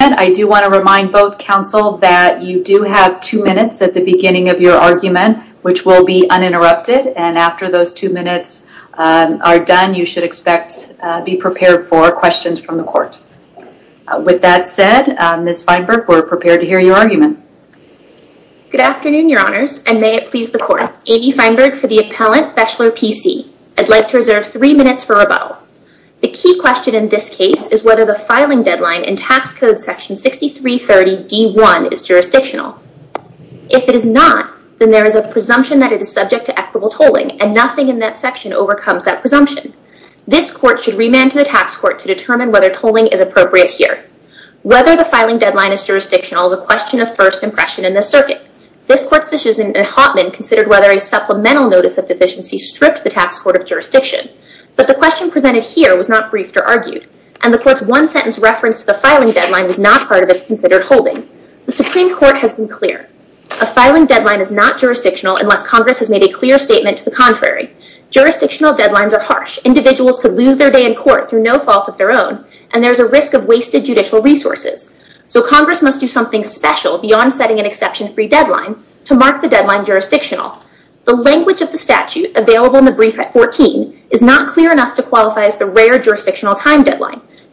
I do want to remind both counsel that you do have two minutes at the beginning of your argument, which will be uninterrupted, and after those two minutes are done, you should expect to be prepared for questions from the court. With that said, Ms. Feinberg, we're prepared to hear your argument. Good afternoon, Your Honors, and may it please the Court. Amy Feinberg for the Appellant, Bechler, P.C. I'd like to reserve three minutes for rebuttal. The key question in this case is whether the filing deadline in Tax Code Section 6330.d.1 is jurisdictional. If it is not, then there is a presumption that it is subject to equitable tolling, and nothing in that section overcomes that presumption. This Court should remand to the Tax Court to determine whether tolling is appropriate here. Whether the filing deadline is jurisdictional is a question of first impression in this circuit. This Court's decision in Hottman considered whether a supplemental notice of deficiency stripped the Tax Court of jurisdiction, but the question presented here was not briefed or argued, and the Court's one-sentence reference to the filing deadline was not part of its considered holding. The Supreme Court has been clear. A filing deadline is not jurisdictional unless Congress has made a clear statement to the contrary. Jurisdictional deadlines are harsh. Individuals could lose their day in court through no fault of their own, and there is a risk of wasted judicial resources. So Congress must do something special beyond setting an exception-free deadline to mark the deadline jurisdictional. The language of the deadline,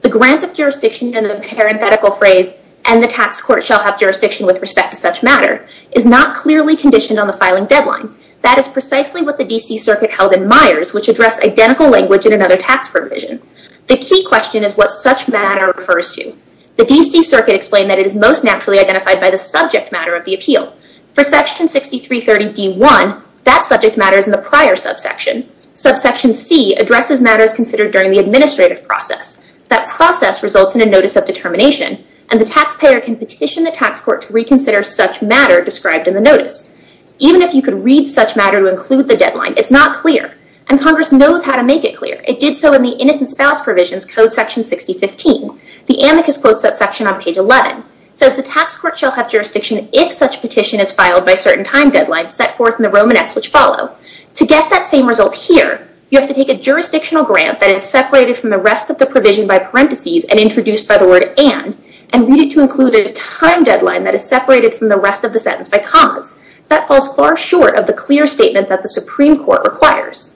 the grant of jurisdiction and the parenthetical phrase, and the Tax Court shall have jurisdiction with respect to such matter, is not clearly conditioned on the filing deadline. That is precisely what the D.C. Circuit held in Myers, which addressed identical language in another tax provision. The key question is what such matter refers to. The D.C. Circuit explained that it is most naturally identified by the subject matter of the appeal. For Section 6330d1, that subject matter is in the prior subsection. Subsection c addresses matters considered during the administrative process. That process results in a notice of determination, and the taxpayer can petition the Tax Court to reconsider such matter described in the notice. Even if you could read such matter to include the deadline, it's not clear, and Congress knows how to make it clear. It did so in the Innocent Spouse Provision's Code Section 6015. The amicus quotes that section on page 11. It says the Tax Court shall have jurisdiction if such petition is filed by certain time deadlines set forth in the Romanets which follow. To get that same result here, you have to take a jurisdictional grant that is separated from the rest of the provision by parentheses and introduced by the word and, and read it to include a time deadline that is separated from the rest of the sentence by commas. That falls far short of the clear statement that the Supreme Court requires.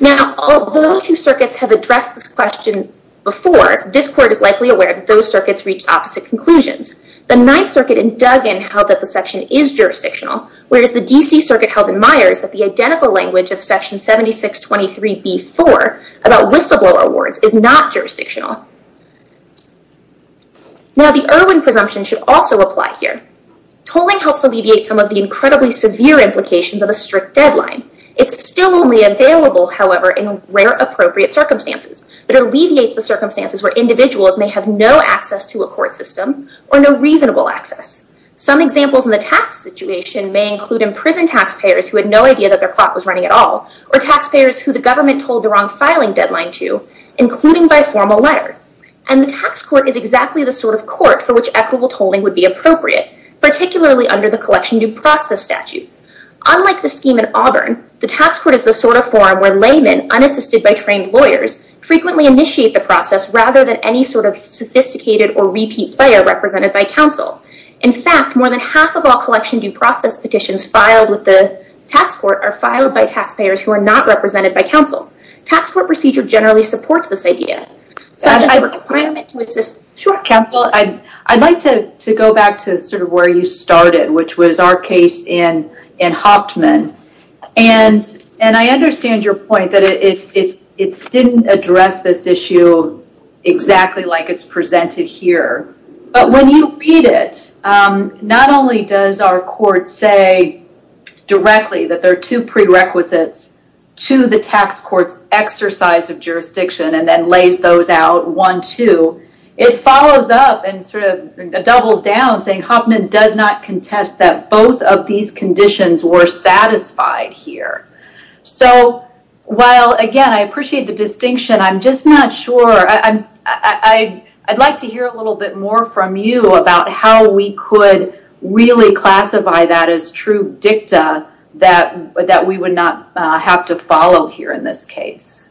Now, although the two circuits have addressed this question before, this Court is likely aware that those circuits reached opposite conclusions. The Ninth Circuit in Duggan held that the section is jurisdictional, whereas the D.C. Circuit held in Myers that the 7623b-4 about whistleblower awards is not jurisdictional. Now, the Irwin presumption should also apply here. Tolling helps alleviate some of the incredibly severe implications of a strict deadline. It's still only available, however, in rare appropriate circumstances that alleviates the circumstances where individuals may have no access to a court system or no reasonable access. Some examples in the tax situation may include imprisoned taxpayers who had no idea that their clock was running at all or taxpayers who the government told the wrong filing deadline to, including by formal letter. And the tax court is exactly the sort of court for which equitable tolling would be appropriate, particularly under the collection due process statute. Unlike the scheme in Auburn, the tax court is the sort of forum where laymen, unassisted by trained lawyers, frequently initiate the process rather than any sort of sophisticated or repeat player represented by counsel. In fact, more than half of all collection due process petitions filed with the tax court are filed by taxpayers who are not represented by counsel. Tax court procedure generally supports this idea. So I just have a requirement to assist... Sure. Counsel, I'd like to go back to sort of where you started, which was our case in Hoptman. And I understand your point that it didn't address this issue exactly like it's presented here. But when you read it, not only does our court say directly that there are two prerequisites to the tax court's exercise of jurisdiction and then lays those out one, two, it follows up and sort of doubles down saying Hoptman does not contest that both of these conditions were satisfied here. So while again, I appreciate the distinction, I'm just not sure. I'd like to hear a little bit more from you about how we could really classify that as true dicta that we would not have to follow here in this case.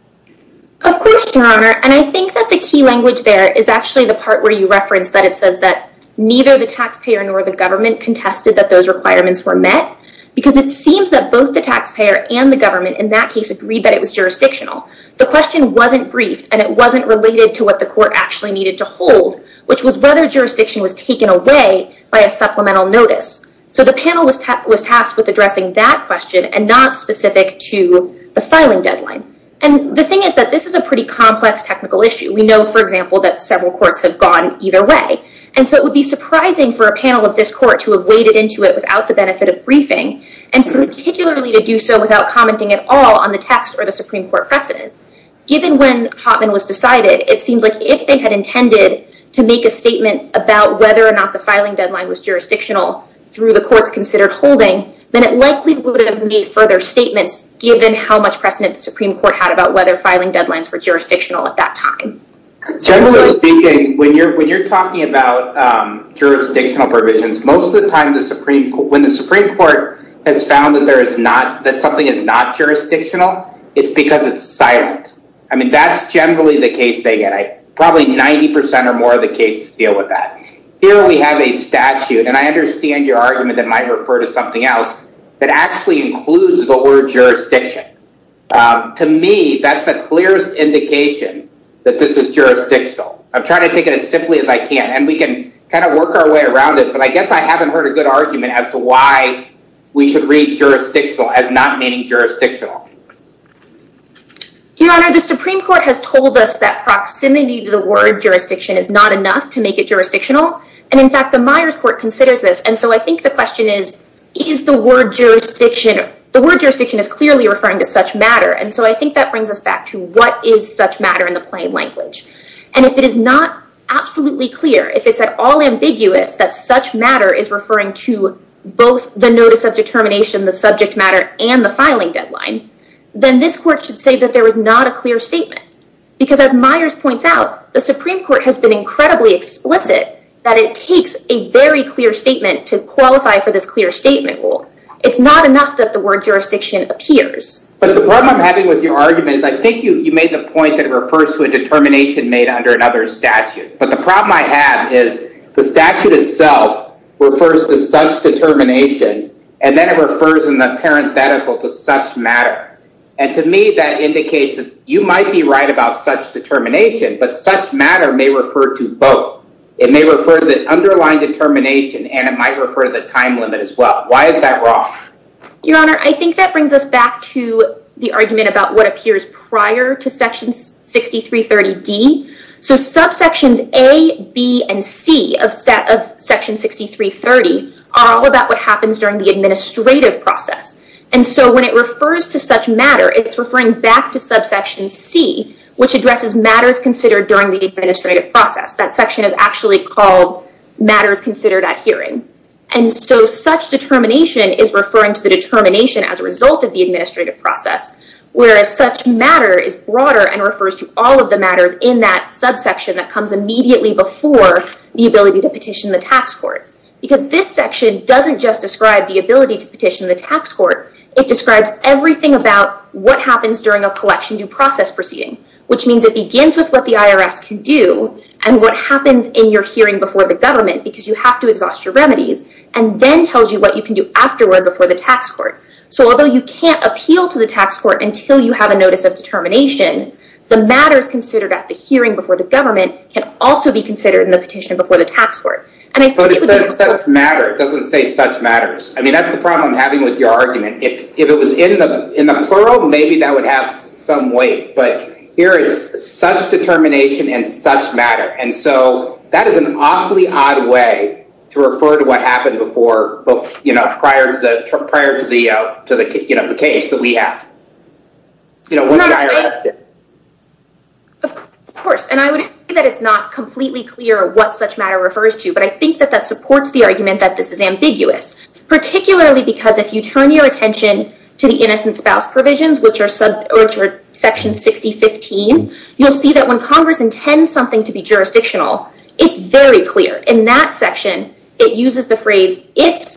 Of course, Your Honor. And I think that the key language there is actually the part where you referenced that it says that neither the taxpayer nor the government contested that those requirements were met, because it seems that both the taxpayer and the government in that case agreed that it was jurisdictional. The question wasn't briefed and it wasn't related to what the court actually needed to hold, which was whether jurisdiction was taken away by a supplemental notice. So the panel was tasked with addressing that question and not specific to the filing deadline. And the thing is that this is a pretty complex technical issue. We know, for example, that several courts have gone either way. And so it would be surprising for a panel of this court to have waded into it without the benefit of briefing, and particularly to do so without commenting at all on the text or the Supreme Court precedent. Given when Hoffman was decided, it seems like if they had intended to make a statement about whether or not the filing deadline was jurisdictional through the courts considered holding, then it likely would have made further statements given how much precedent the Supreme Court had about whether filing deadlines were jurisdictional at that time. Generally speaking, when you're talking about jurisdictional provisions, most of the time when the Supreme Court has found that something is not jurisdictional, it's because it's silent. I mean, that's generally the case they get. Probably 90% or more of the cases deal with that. Here we have a statute, and I understand your argument that might refer to something else, that actually includes the word jurisdiction. To me, that's the clearest indication that this is jurisdictional. I'm trying to take it as simply as I can. And we can kind of work our way around it. But I guess I haven't heard a good argument as to why we should read jurisdictional as not meaning jurisdictional. Your Honor, the Supreme Court has told us that proximity to the word jurisdiction is not enough to make it jurisdictional. And in fact, the Myers Court considers this. And so I think the question is, is the word jurisdiction, the word jurisdiction is clearly referring to such matter. And so I think that brings us back to what is such matter in the case. If it's at all ambiguous that such matter is referring to both the notice of determination, the subject matter, and the filing deadline, then this court should say that there was not a clear statement. Because as Myers points out, the Supreme Court has been incredibly explicit that it takes a very clear statement to qualify for this clear statement rule. It's not enough that the word jurisdiction appears. But the problem I'm having with your argument is, I think you made the point that it refers to a determination made under another statute. But the problem I have is the statute itself refers to such determination, and then it refers in the parenthetical to such matter. And to me, that indicates that you might be right about such determination, but such matter may refer to both. It may refer to the underlying determination, and it might refer to the time limit as well. Why is that wrong? Your Honor, I think that brings us back to the argument about what appears prior to Section 6330D. So subsections A, B, and C of Section 6330 are all about what happens during the administrative process. And so when it refers to such matter, it's referring back to subsection C, which addresses matters considered during the administrative process. That section is actually called matters considered at hearing. And so such determination is referring to the determination as a result of the administrative process, whereas such matter is broader and refers to all of the matters in that subsection that comes immediately before the ability to petition the tax court. Because this section doesn't just describe the ability to petition the tax court, it describes everything about what happens during a collection due process proceeding, which means it begins with what the IRS can do and what happens in your hearing before the government, because you have to exhaust your remedies, and then tells you what you can do before the tax court. So although you can't appeal to the tax court until you have a notice of determination, the matters considered at the hearing before the government can also be considered in the petition before the tax court. But it says such matter. It doesn't say such matters. I mean, that's the problem I'm having with your argument. If it was in the plural, maybe that would have some weight, but here is such determination and such matter. And so that is an awfully odd way to refer to what happened prior to the case that we have. You know, of course, and I would say that it's not completely clear what such matter refers to, but I think that that supports the argument that this is ambiguous, particularly because if you turn your attention to the innocent spouse provisions, which are subsection 6015, you'll see that when Congress intends something to be jurisdictional, it's very clear. In that section, it uses the phrase, it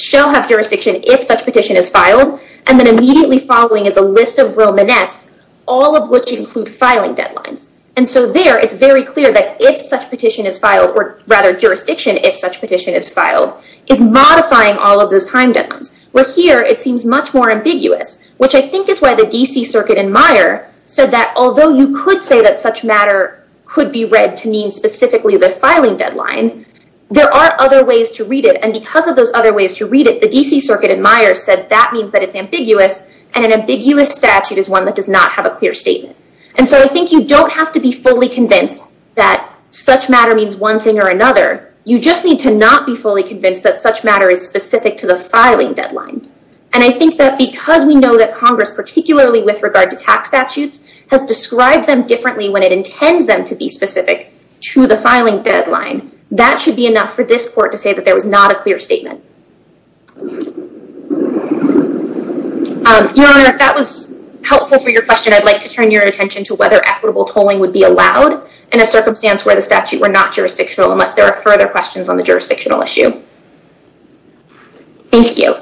shall have jurisdiction if such petition is filed, and then immediately following is a list of Romanets, all of which include filing deadlines. And so there, it's very clear that if such petition is filed, or rather jurisdiction if such petition is filed, is modifying all of those timelines. Where here, it seems much more ambiguous, which I think is why the DC Circuit in Meijer said that although you could say that such matter could be read to mean specifically the filing deadline, there are other ways to read it. And because of those other ways to read it, the DC Circuit in Meijer said that means that it's ambiguous, and an ambiguous statute is one that does not have a clear statement. And so I think you don't have to be fully convinced that such matter means one thing or another. You just need to not be fully convinced that such matter is specific to the filing deadline. And I think that because we know that Congress, particularly with regard to tax statutes, has described them differently when it intends them to be specific to the filing deadline, that should be enough for this court to say that there was not a clear statement. Your Honor, if that was helpful for your question, I'd like to turn your attention to whether equitable tolling would be allowed in a circumstance where the statute were not jurisdictional, unless there are further questions on the jurisdictional issue. Thank you.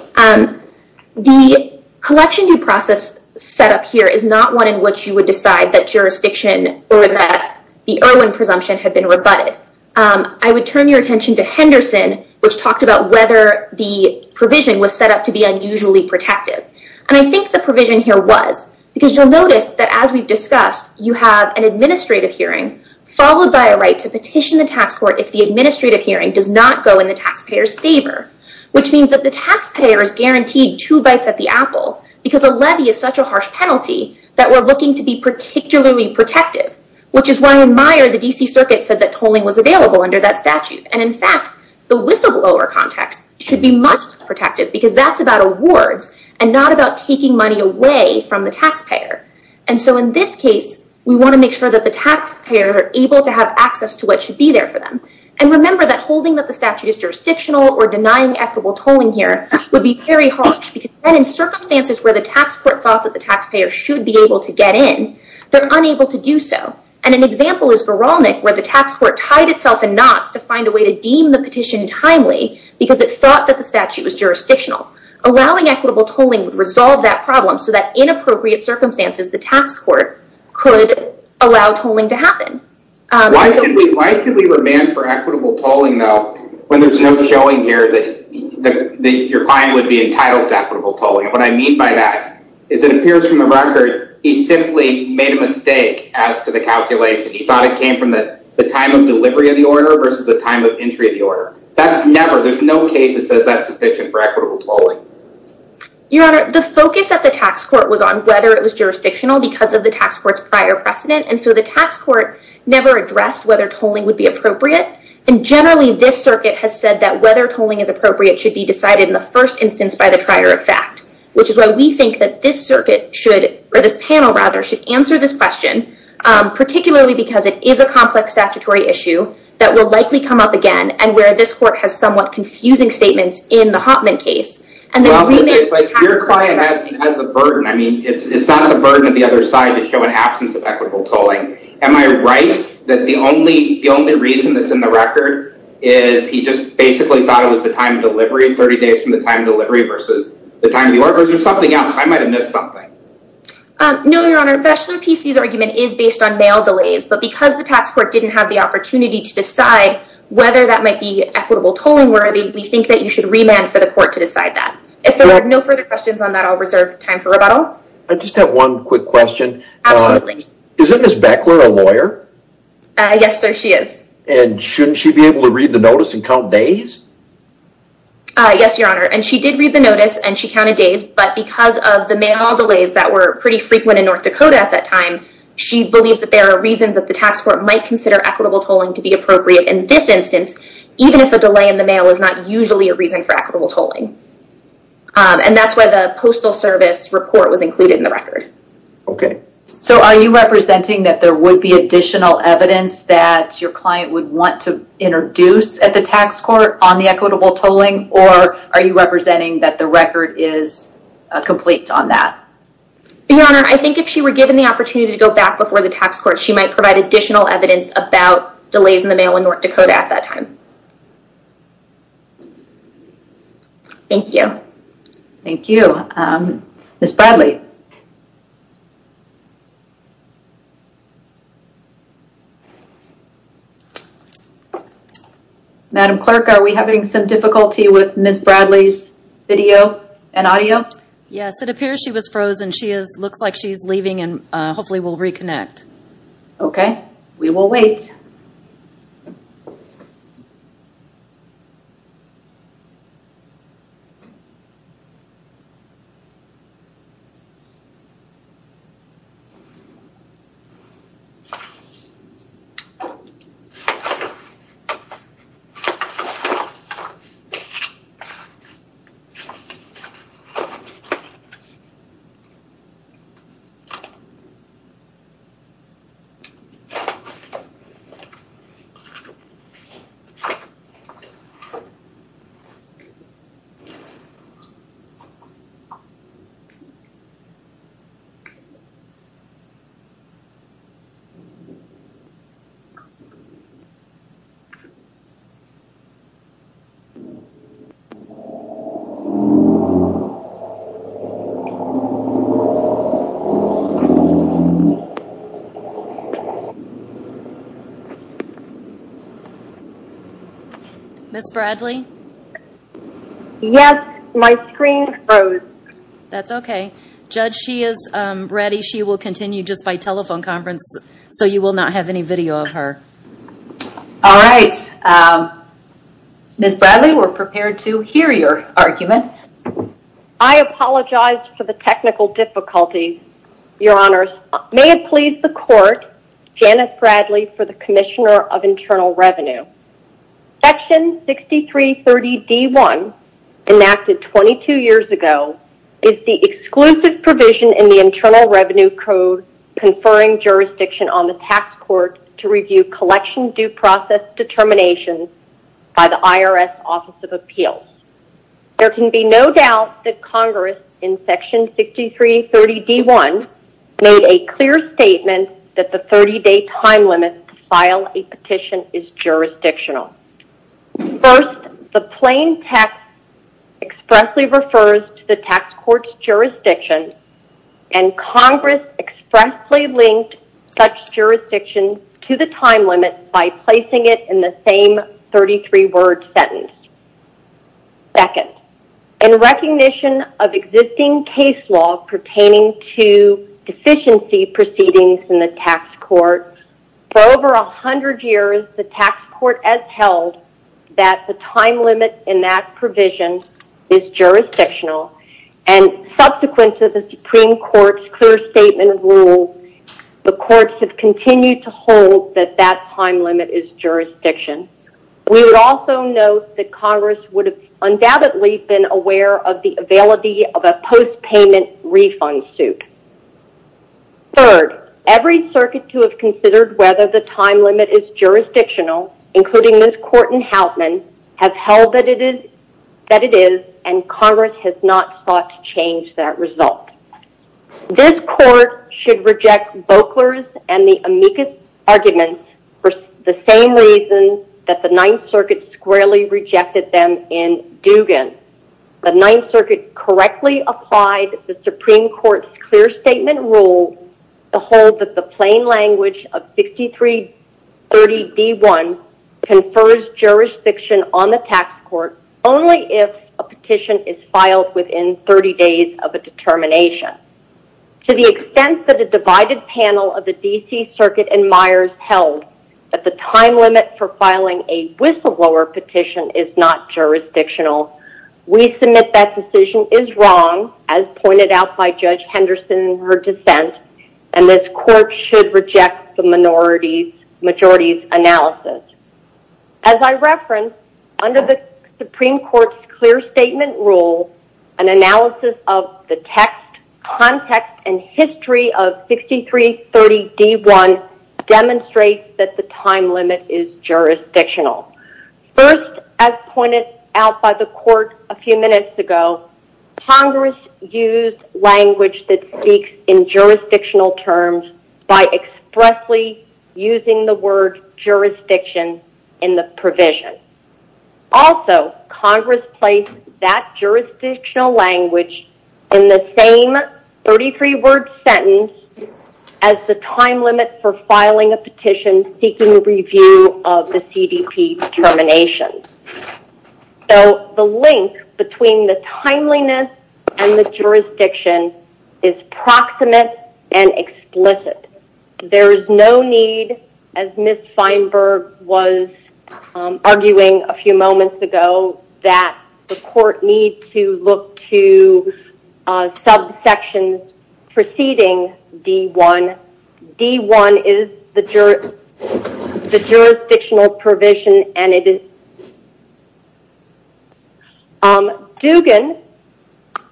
The collection due process set up here is not one in which you would decide that jurisdiction or that the Irwin presumption had been rebutted. I would turn your attention to Henderson, which talked about whether the provision was set up to be unusually protective. And I think the provision here was, because you'll notice that as we've discussed, you have an administrative hearing followed by a right to petition the tax court if the administrative hearing does not go in the taxpayer's favor, which means that the taxpayer is guaranteed two bites at the apple because a levy is such a harsh penalty that we're looking to be particularly protective, which is why in Meyer, the D.C. Circuit said that tolling was available under that statute. And in fact, the whistleblower context should be much more protective because that's about awards and not about taking money away from the taxpayer. And so in this case, we want to make sure that the taxpayer are able to have access to what should be there for them. And remember that holding that the statute is jurisdictional or denying equitable tolling here would be very harsh because then in circumstances where the tax court thought that the taxpayer should be able to get in, they're unable to do so. And an example is Goralnik, where the tax court tied itself in knots to find a way to deem the petition timely because it thought that the statute was jurisdictional. Allowing equitable tolling would resolve that problem so that in allow tolling to happen. Why should we demand for equitable tolling, though, when there's no showing here that your client would be entitled to equitable tolling? And what I mean by that is it appears from the record he simply made a mistake as to the calculation. He thought it came from the time of delivery of the order versus the time of entry of the order. That's never there's no case that says that's sufficient for equitable tolling. Your Honor, the focus at the tax court was on whether it was jurisdictional because of the tax court's prior precedent. And so the tax court never addressed whether tolling would be appropriate. And generally, this circuit has said that whether tolling is appropriate should be decided in the first instance by the trier of fact, which is why we think that this circuit should, or this panel rather, should answer this question, particularly because it is a complex statutory issue that will likely come up again and where this court has somewhat confusing statements in the Hoffman case. Your client has the burden. I mean, it's not the burden of the other side to an absence of equitable tolling. Am I right that the only the only reason that's in the record is he just basically thought it was the time of delivery 30 days from the time of delivery versus the time of the order or something else? I might have missed something. No, Your Honor, Breslin PC's argument is based on mail delays, but because the tax court didn't have the opportunity to decide whether that might be equitable tolling worthy, we think that you should remand for the court to decide that. If there are no further questions on that, I'll reserve time for rebuttal. I just have one quick question. Isn't Ms. Beckler a lawyer? Yes, sir, she is. And shouldn't she be able to read the notice and count days? Yes, Your Honor, and she did read the notice and she counted days, but because of the mail delays that were pretty frequent in North Dakota at that time, she believes that there are reasons that the tax court might consider equitable tolling to be appropriate in this instance, even if a delay in equitable tolling. And that's why the Postal Service report was included in the record. Okay, so are you representing that there would be additional evidence that your client would want to introduce at the tax court on the equitable tolling, or are you representing that the record is complete on that? Your Honor, I think if she were given the opportunity to go back before the tax court, she might provide additional evidence about delays in the mail in North Dakota at that time. Thank you. Thank you. Ms. Bradley. Madam Clerk, are we having some difficulty with Ms. Bradley's video and audio? Yes, it appears she was frozen. She looks like she's leaving and hopefully will reconnect. Okay, we will wait. Ms. Bradley? Yes, my screen froze. That's okay. Judge, she is ready. She will continue just by telephone conference, so you will not have any video of her. All right. Ms. Bradley, we're prepared to hear your argument. I apologize for the technical difficulties, Your Honors. May it please the Court, Janice Bradley for the Commissioner of Internal Revenue. Section 6330D1, enacted 22 years ago, is the exclusive provision in the Internal Revenue Code conferring jurisdiction on the tax court to review collection due process determinations by the IRS Office of Appeals. There can be no doubt that Congress in Section 6330D1 made a clear statement that the 30-day time limit to file a petition is jurisdictional. First, the plain text expressly refers to the tax court's jurisdiction, and Congress expressly linked such jurisdiction to the time limit by placing it in the same 33-word sentence. Second, in recognition of existing case law pertaining to deficiency proceedings in the tax court, for over 100 years, the tax court has held that the time limit in that provision is jurisdictional. Subsequent to the Supreme Court ruling that the time limit is jurisdictional, we would also note that Congress would have undoubtedly been aware of the availability of a post-payment refund suit. Third, every circuit to have considered whether the time limit is jurisdictional, including this court in Houtman, has held that it is, and Congress has not sought to change that result. This court should reject Boekler's and the Amicus arguments for the same reason that the Ninth Circuit squarely rejected them in Dugan. The Ninth Circuit correctly applied the Supreme Court's clear statement rule to hold that the plain language of 6330D1 confers jurisdiction on the tax court only if a petition is filed within 30 days of a determination. To the extent that a divided panel of the D.C. Circuit and Myers held that the time limit for filing a whistleblower petition is not jurisdictional, we submit that decision is wrong, as pointed out by Judge Henderson in her clear statement rule, an analysis of the text, context, and history of 6330D1 demonstrates that the time limit is jurisdictional. First, as pointed out by the court a few minutes ago, Congress used language that speaks in jurisdictional terms by expressly using the word jurisdiction in the provision. Also, Congress placed that jurisdictional language in the same 33-word sentence as the time limit for filing a petition seeking review of the CDP determination. So, the link between the timeliness and the jurisdiction is proximate and explicit. There is no need, as Ms. Feinberg was arguing a few moments ago, that the court need to look to subsections preceding D1. D1 is the jurisdictional provision and it is not jurisdictional. Dugan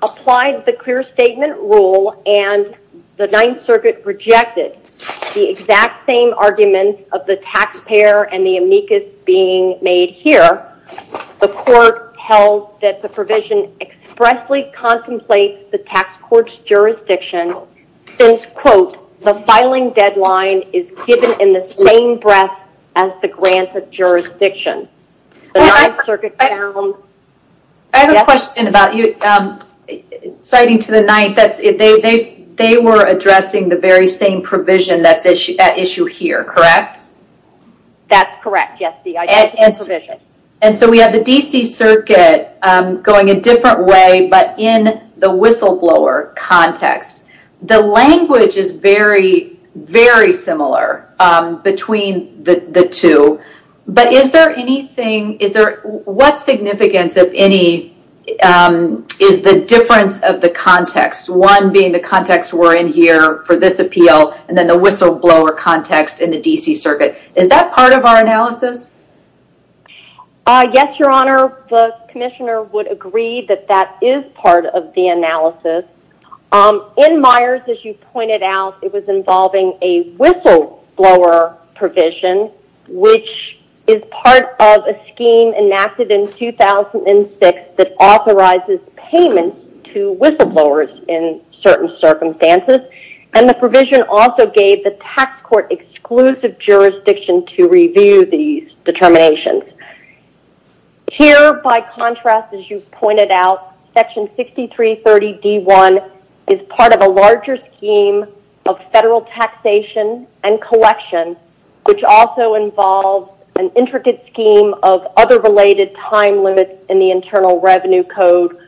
applied the clear statement rule and the Ninth Circuit rejected the exact same arguments of the taxpayer and the amicus being made here. The court held that the provision expressly contemplates the tax court's jurisdiction since, quote, the filing deadline is given in the same breath as the granted jurisdiction. I have a question about you citing to the Ninth. They were addressing the very same provision that's at issue here, correct? That's correct, yes. We have the D.C. Circuit going a different way, but in the whistleblower context. The language is very, very similar between the two, but is there anything, what significance, if any, is the difference of the context? One being the context we're in here for this appeal and then the whistleblower context in the D.C. Circuit. Is that part of our analysis? Yes, your honor. The commissioner would agree that that is part of the analysis. In Myers, as you pointed out, it was involving a whistleblower provision, which is part of a scheme enacted in 2006 that authorizes payments to whistleblowers in certain circumstances, and the provision also gave the tax court exclusive jurisdiction to review these determinations. Here, by contrast, as you pointed out, section 6330 D.1 is part of a larger scheme of federal taxation and collection, which also involves an intricate scheme of other related time limits in the Internal Revenue Code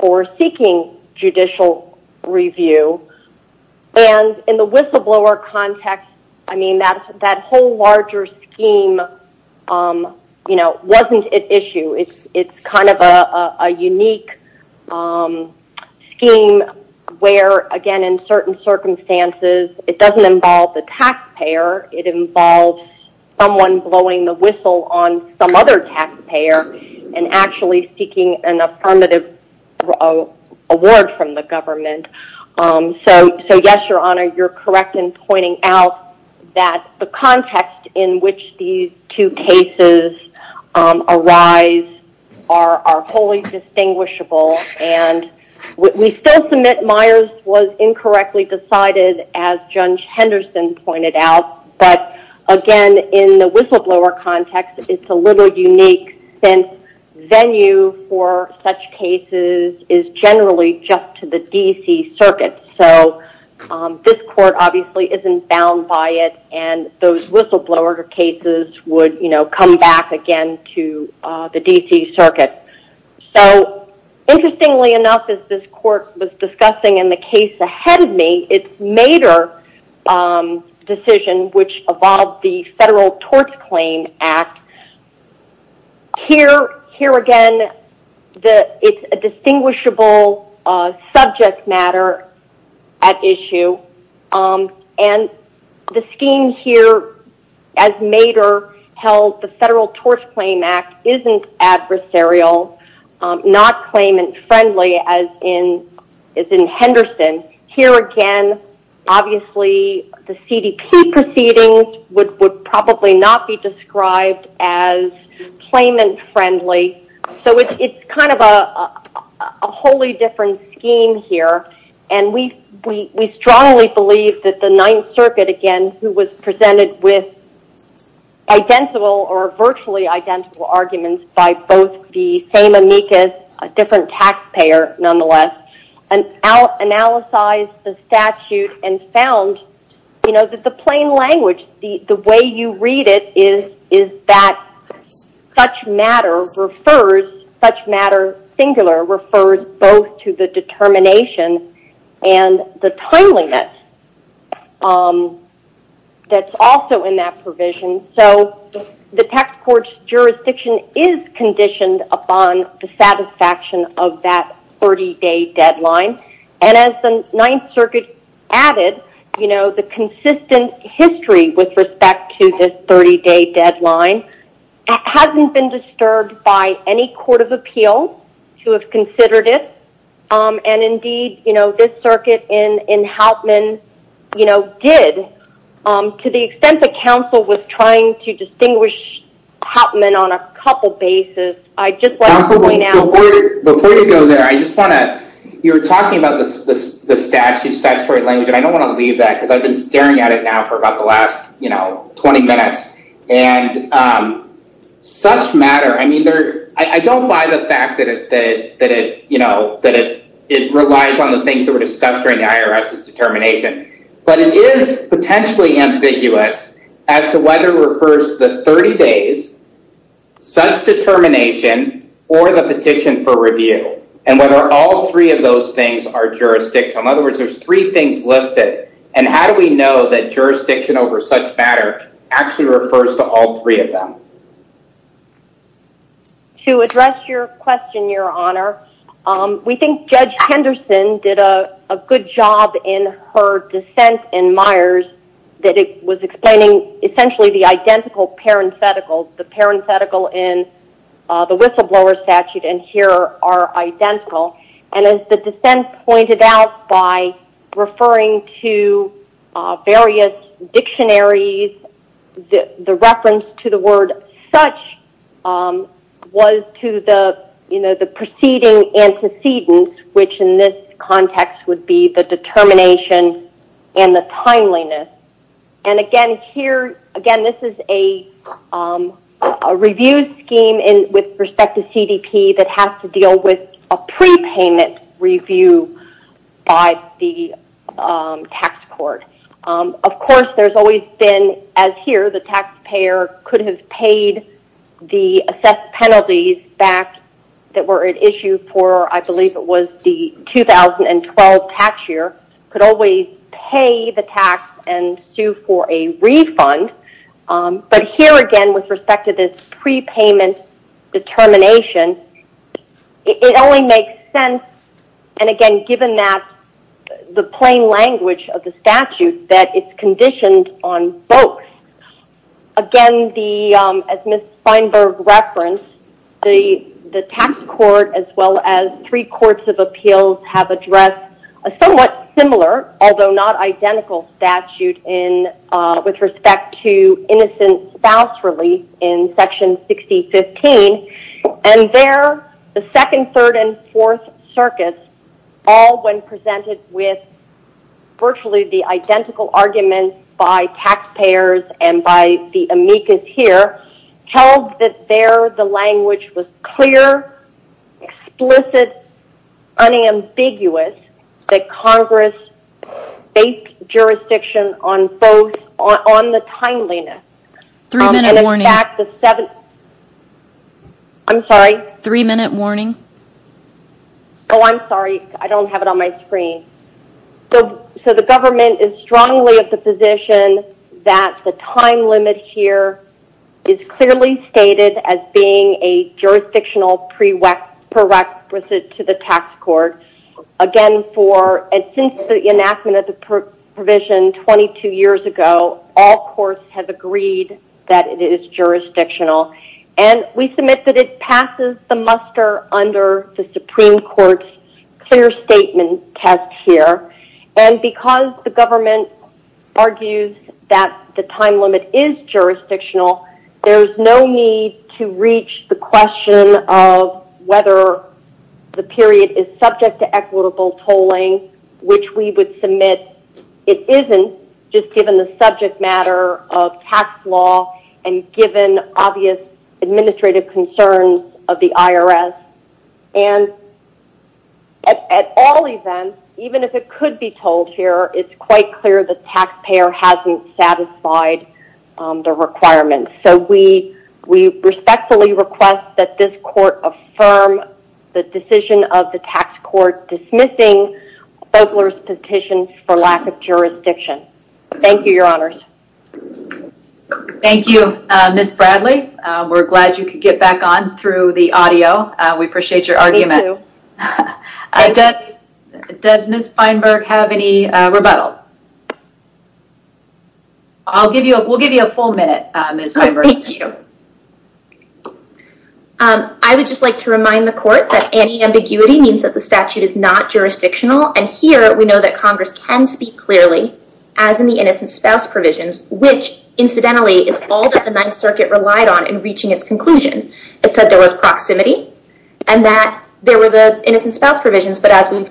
for seeking judicial review. And in the whistleblower context, that whole larger scheme wasn't an issue. It's kind of a unique scheme where, again, in certain circumstances, it doesn't involve the taxpayer. It involves someone blowing the whistle on some other taxpayer and actually seeking an affirmative award from the government. So yes, your honor, you're correct in pointing out that the context in which these two cases arise are wholly distinguishable, and we still submit Myers was incorrectly decided, as Judge Henderson pointed out, but again, in the whistleblower context, it's a little unique since venue for such cases is generally just to the D.C. circuit. So this court obviously isn't bound by it, and those whistleblower cases would come back again to the D.C. circuit. So interestingly enough, as this court was discussing in the case ahead of me, its decision, which involved the Federal Tort Claim Act, here again, it's a distinguishable subject matter at issue, and the scheme here, as Mader held the Federal Tort Claim Act, isn't adversarial, not claimant friendly, as in Henderson. Here again, obviously, the C.D.P. proceedings would probably not be described as claimant friendly. So it's kind of a wholly different scheme here, and we strongly believe that the Ninth Circuit, again, who was by both the same amicus, a different taxpayer nonetheless, analyzed the statute and found that the plain language, the way you read it is that such matter refers, such matter singular refers both to the determination and the timeliness that's also in that provision. So the tax court's jurisdiction is conditioned upon the satisfaction of that 30-day deadline, and as the Ninth Circuit added, you know, the consistent history with respect to this 30-day deadline hasn't been disturbed by any court of appeal to have considered it, and indeed, you know, did. To the extent that counsel was trying to distinguish Hopman on a couple bases, I'd just like to point out... Before you go there, I just want to, you were talking about the statute, statutory language, and I don't want to leave that because I've been staring at it now for about the last, you know, 20 minutes, and such matter, I mean, I don't buy the fact that it, you know, that it relies on the things that were discussed during the IRS's determination, but it is potentially ambiguous as to whether it refers to the 30 days, such determination, or the petition for review, and whether all three of those things are jurisdictional. In other words, there's three things listed, and how do we know that jurisdiction over such matter actually refers to all three of them? To address your question, Your Honor, we think Judge Henderson did a good job in her dissent in Myers that it was explaining essentially the identical parenthetical, the parenthetical in the whistleblower statute and here are identical, and as the dissent pointed out by referring to various dictionaries, the reference to the word such was to the, you know, the preceding antecedents, which in this context would be the determination and the timeliness. And again, here, again, this is a review scheme with respect to CDP that has to deal with a by the tax court. Of course, there's always been, as here, the taxpayer could have paid the assessed penalties back that were at issue for, I believe it was the 2012 tax year, could always pay the tax and sue for a refund, but here, again, with respect to this prepayment determination, it only makes sense, and again, given that the plain language of the statute, that it's conditioned on both. Again, the, as Ms. Feinberg referenced, the tax court as well as three courts of appeals have addressed a somewhat similar, although not identical statute in, with respect to innocent spouse relief in section 6015, and there, the second, third, and fourth circuits, all when presented with virtually the identical arguments by taxpayers and by the amicus here, held that there the language was clear, explicit, unambiguous, that Congress based jurisdiction on both, on the timeliness. Three-minute warning. I'm sorry? Three-minute warning. Oh, I'm sorry. I don't have it on my screen. So, the government is strongly of the position that the time limit here is clearly stated as being a jurisdictional prerequisite to the tax court. Again, for, and since the enactment of the provision 22 years ago, all courts have agreed that it is jurisdictional, and we submit that it passes the muster under the Supreme Court's clear statement test here, and because the government argues that the time limit is subject to equitable tolling, which we would submit, it isn't, just given the subject matter of tax law and given obvious administrative concerns of the IRS, and at all events, even if it could be told here, it's quite clear the taxpayer hasn't satisfied the requirements. So, we respectfully request that this court affirm the decision of the tax court dismissing Fogler's petition for lack of jurisdiction. Thank you, your honors. Thank you, Ms. Bradley. We're glad you could get back on through the audio. We appreciate your argument. Does Ms. Feinberg have any rebuttal? I'll give you, we'll give you a full minute, Ms. Feinberg. Thank you. I would just like to remind the court that any ambiguity means that the statute is not jurisdictional, and here we know that Congress can speak clearly, as in the innocent spouse provisions, which, incidentally, is all that the Ninth Circuit relied on in reaching its conclusion. It said there was proximity, and that there were the innocent spouse provisions, but as we've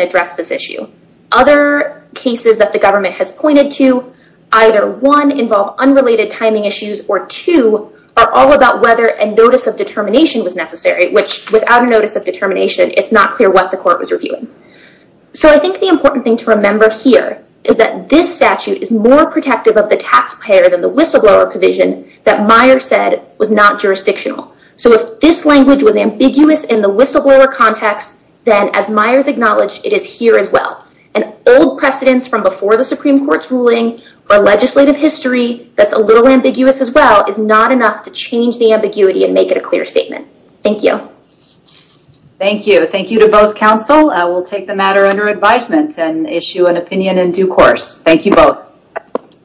addressed this issue, other cases that the government has pointed to either, one, involve unrelated timing issues, or two, are all about whether a notice of determination was necessary, which without a notice of determination, it's not clear what the court was reviewing. So, I think the important thing to remember here is that this statute is more protective of the taxpayer than the whistleblower provision that Meyer said was not jurisdictional. So, if this language was ambiguous in the whistleblower context, then as Meyer's acknowledged, it is here as well, and old precedents from before the Supreme Court's ruling or legislative history that's a little ambiguous as well is not enough to change the ambiguity and make it a clear statement. Thank you. Thank you. Thank you to both counsel. I will take the matter under advisement and issue an opinion in due course. Thank you both.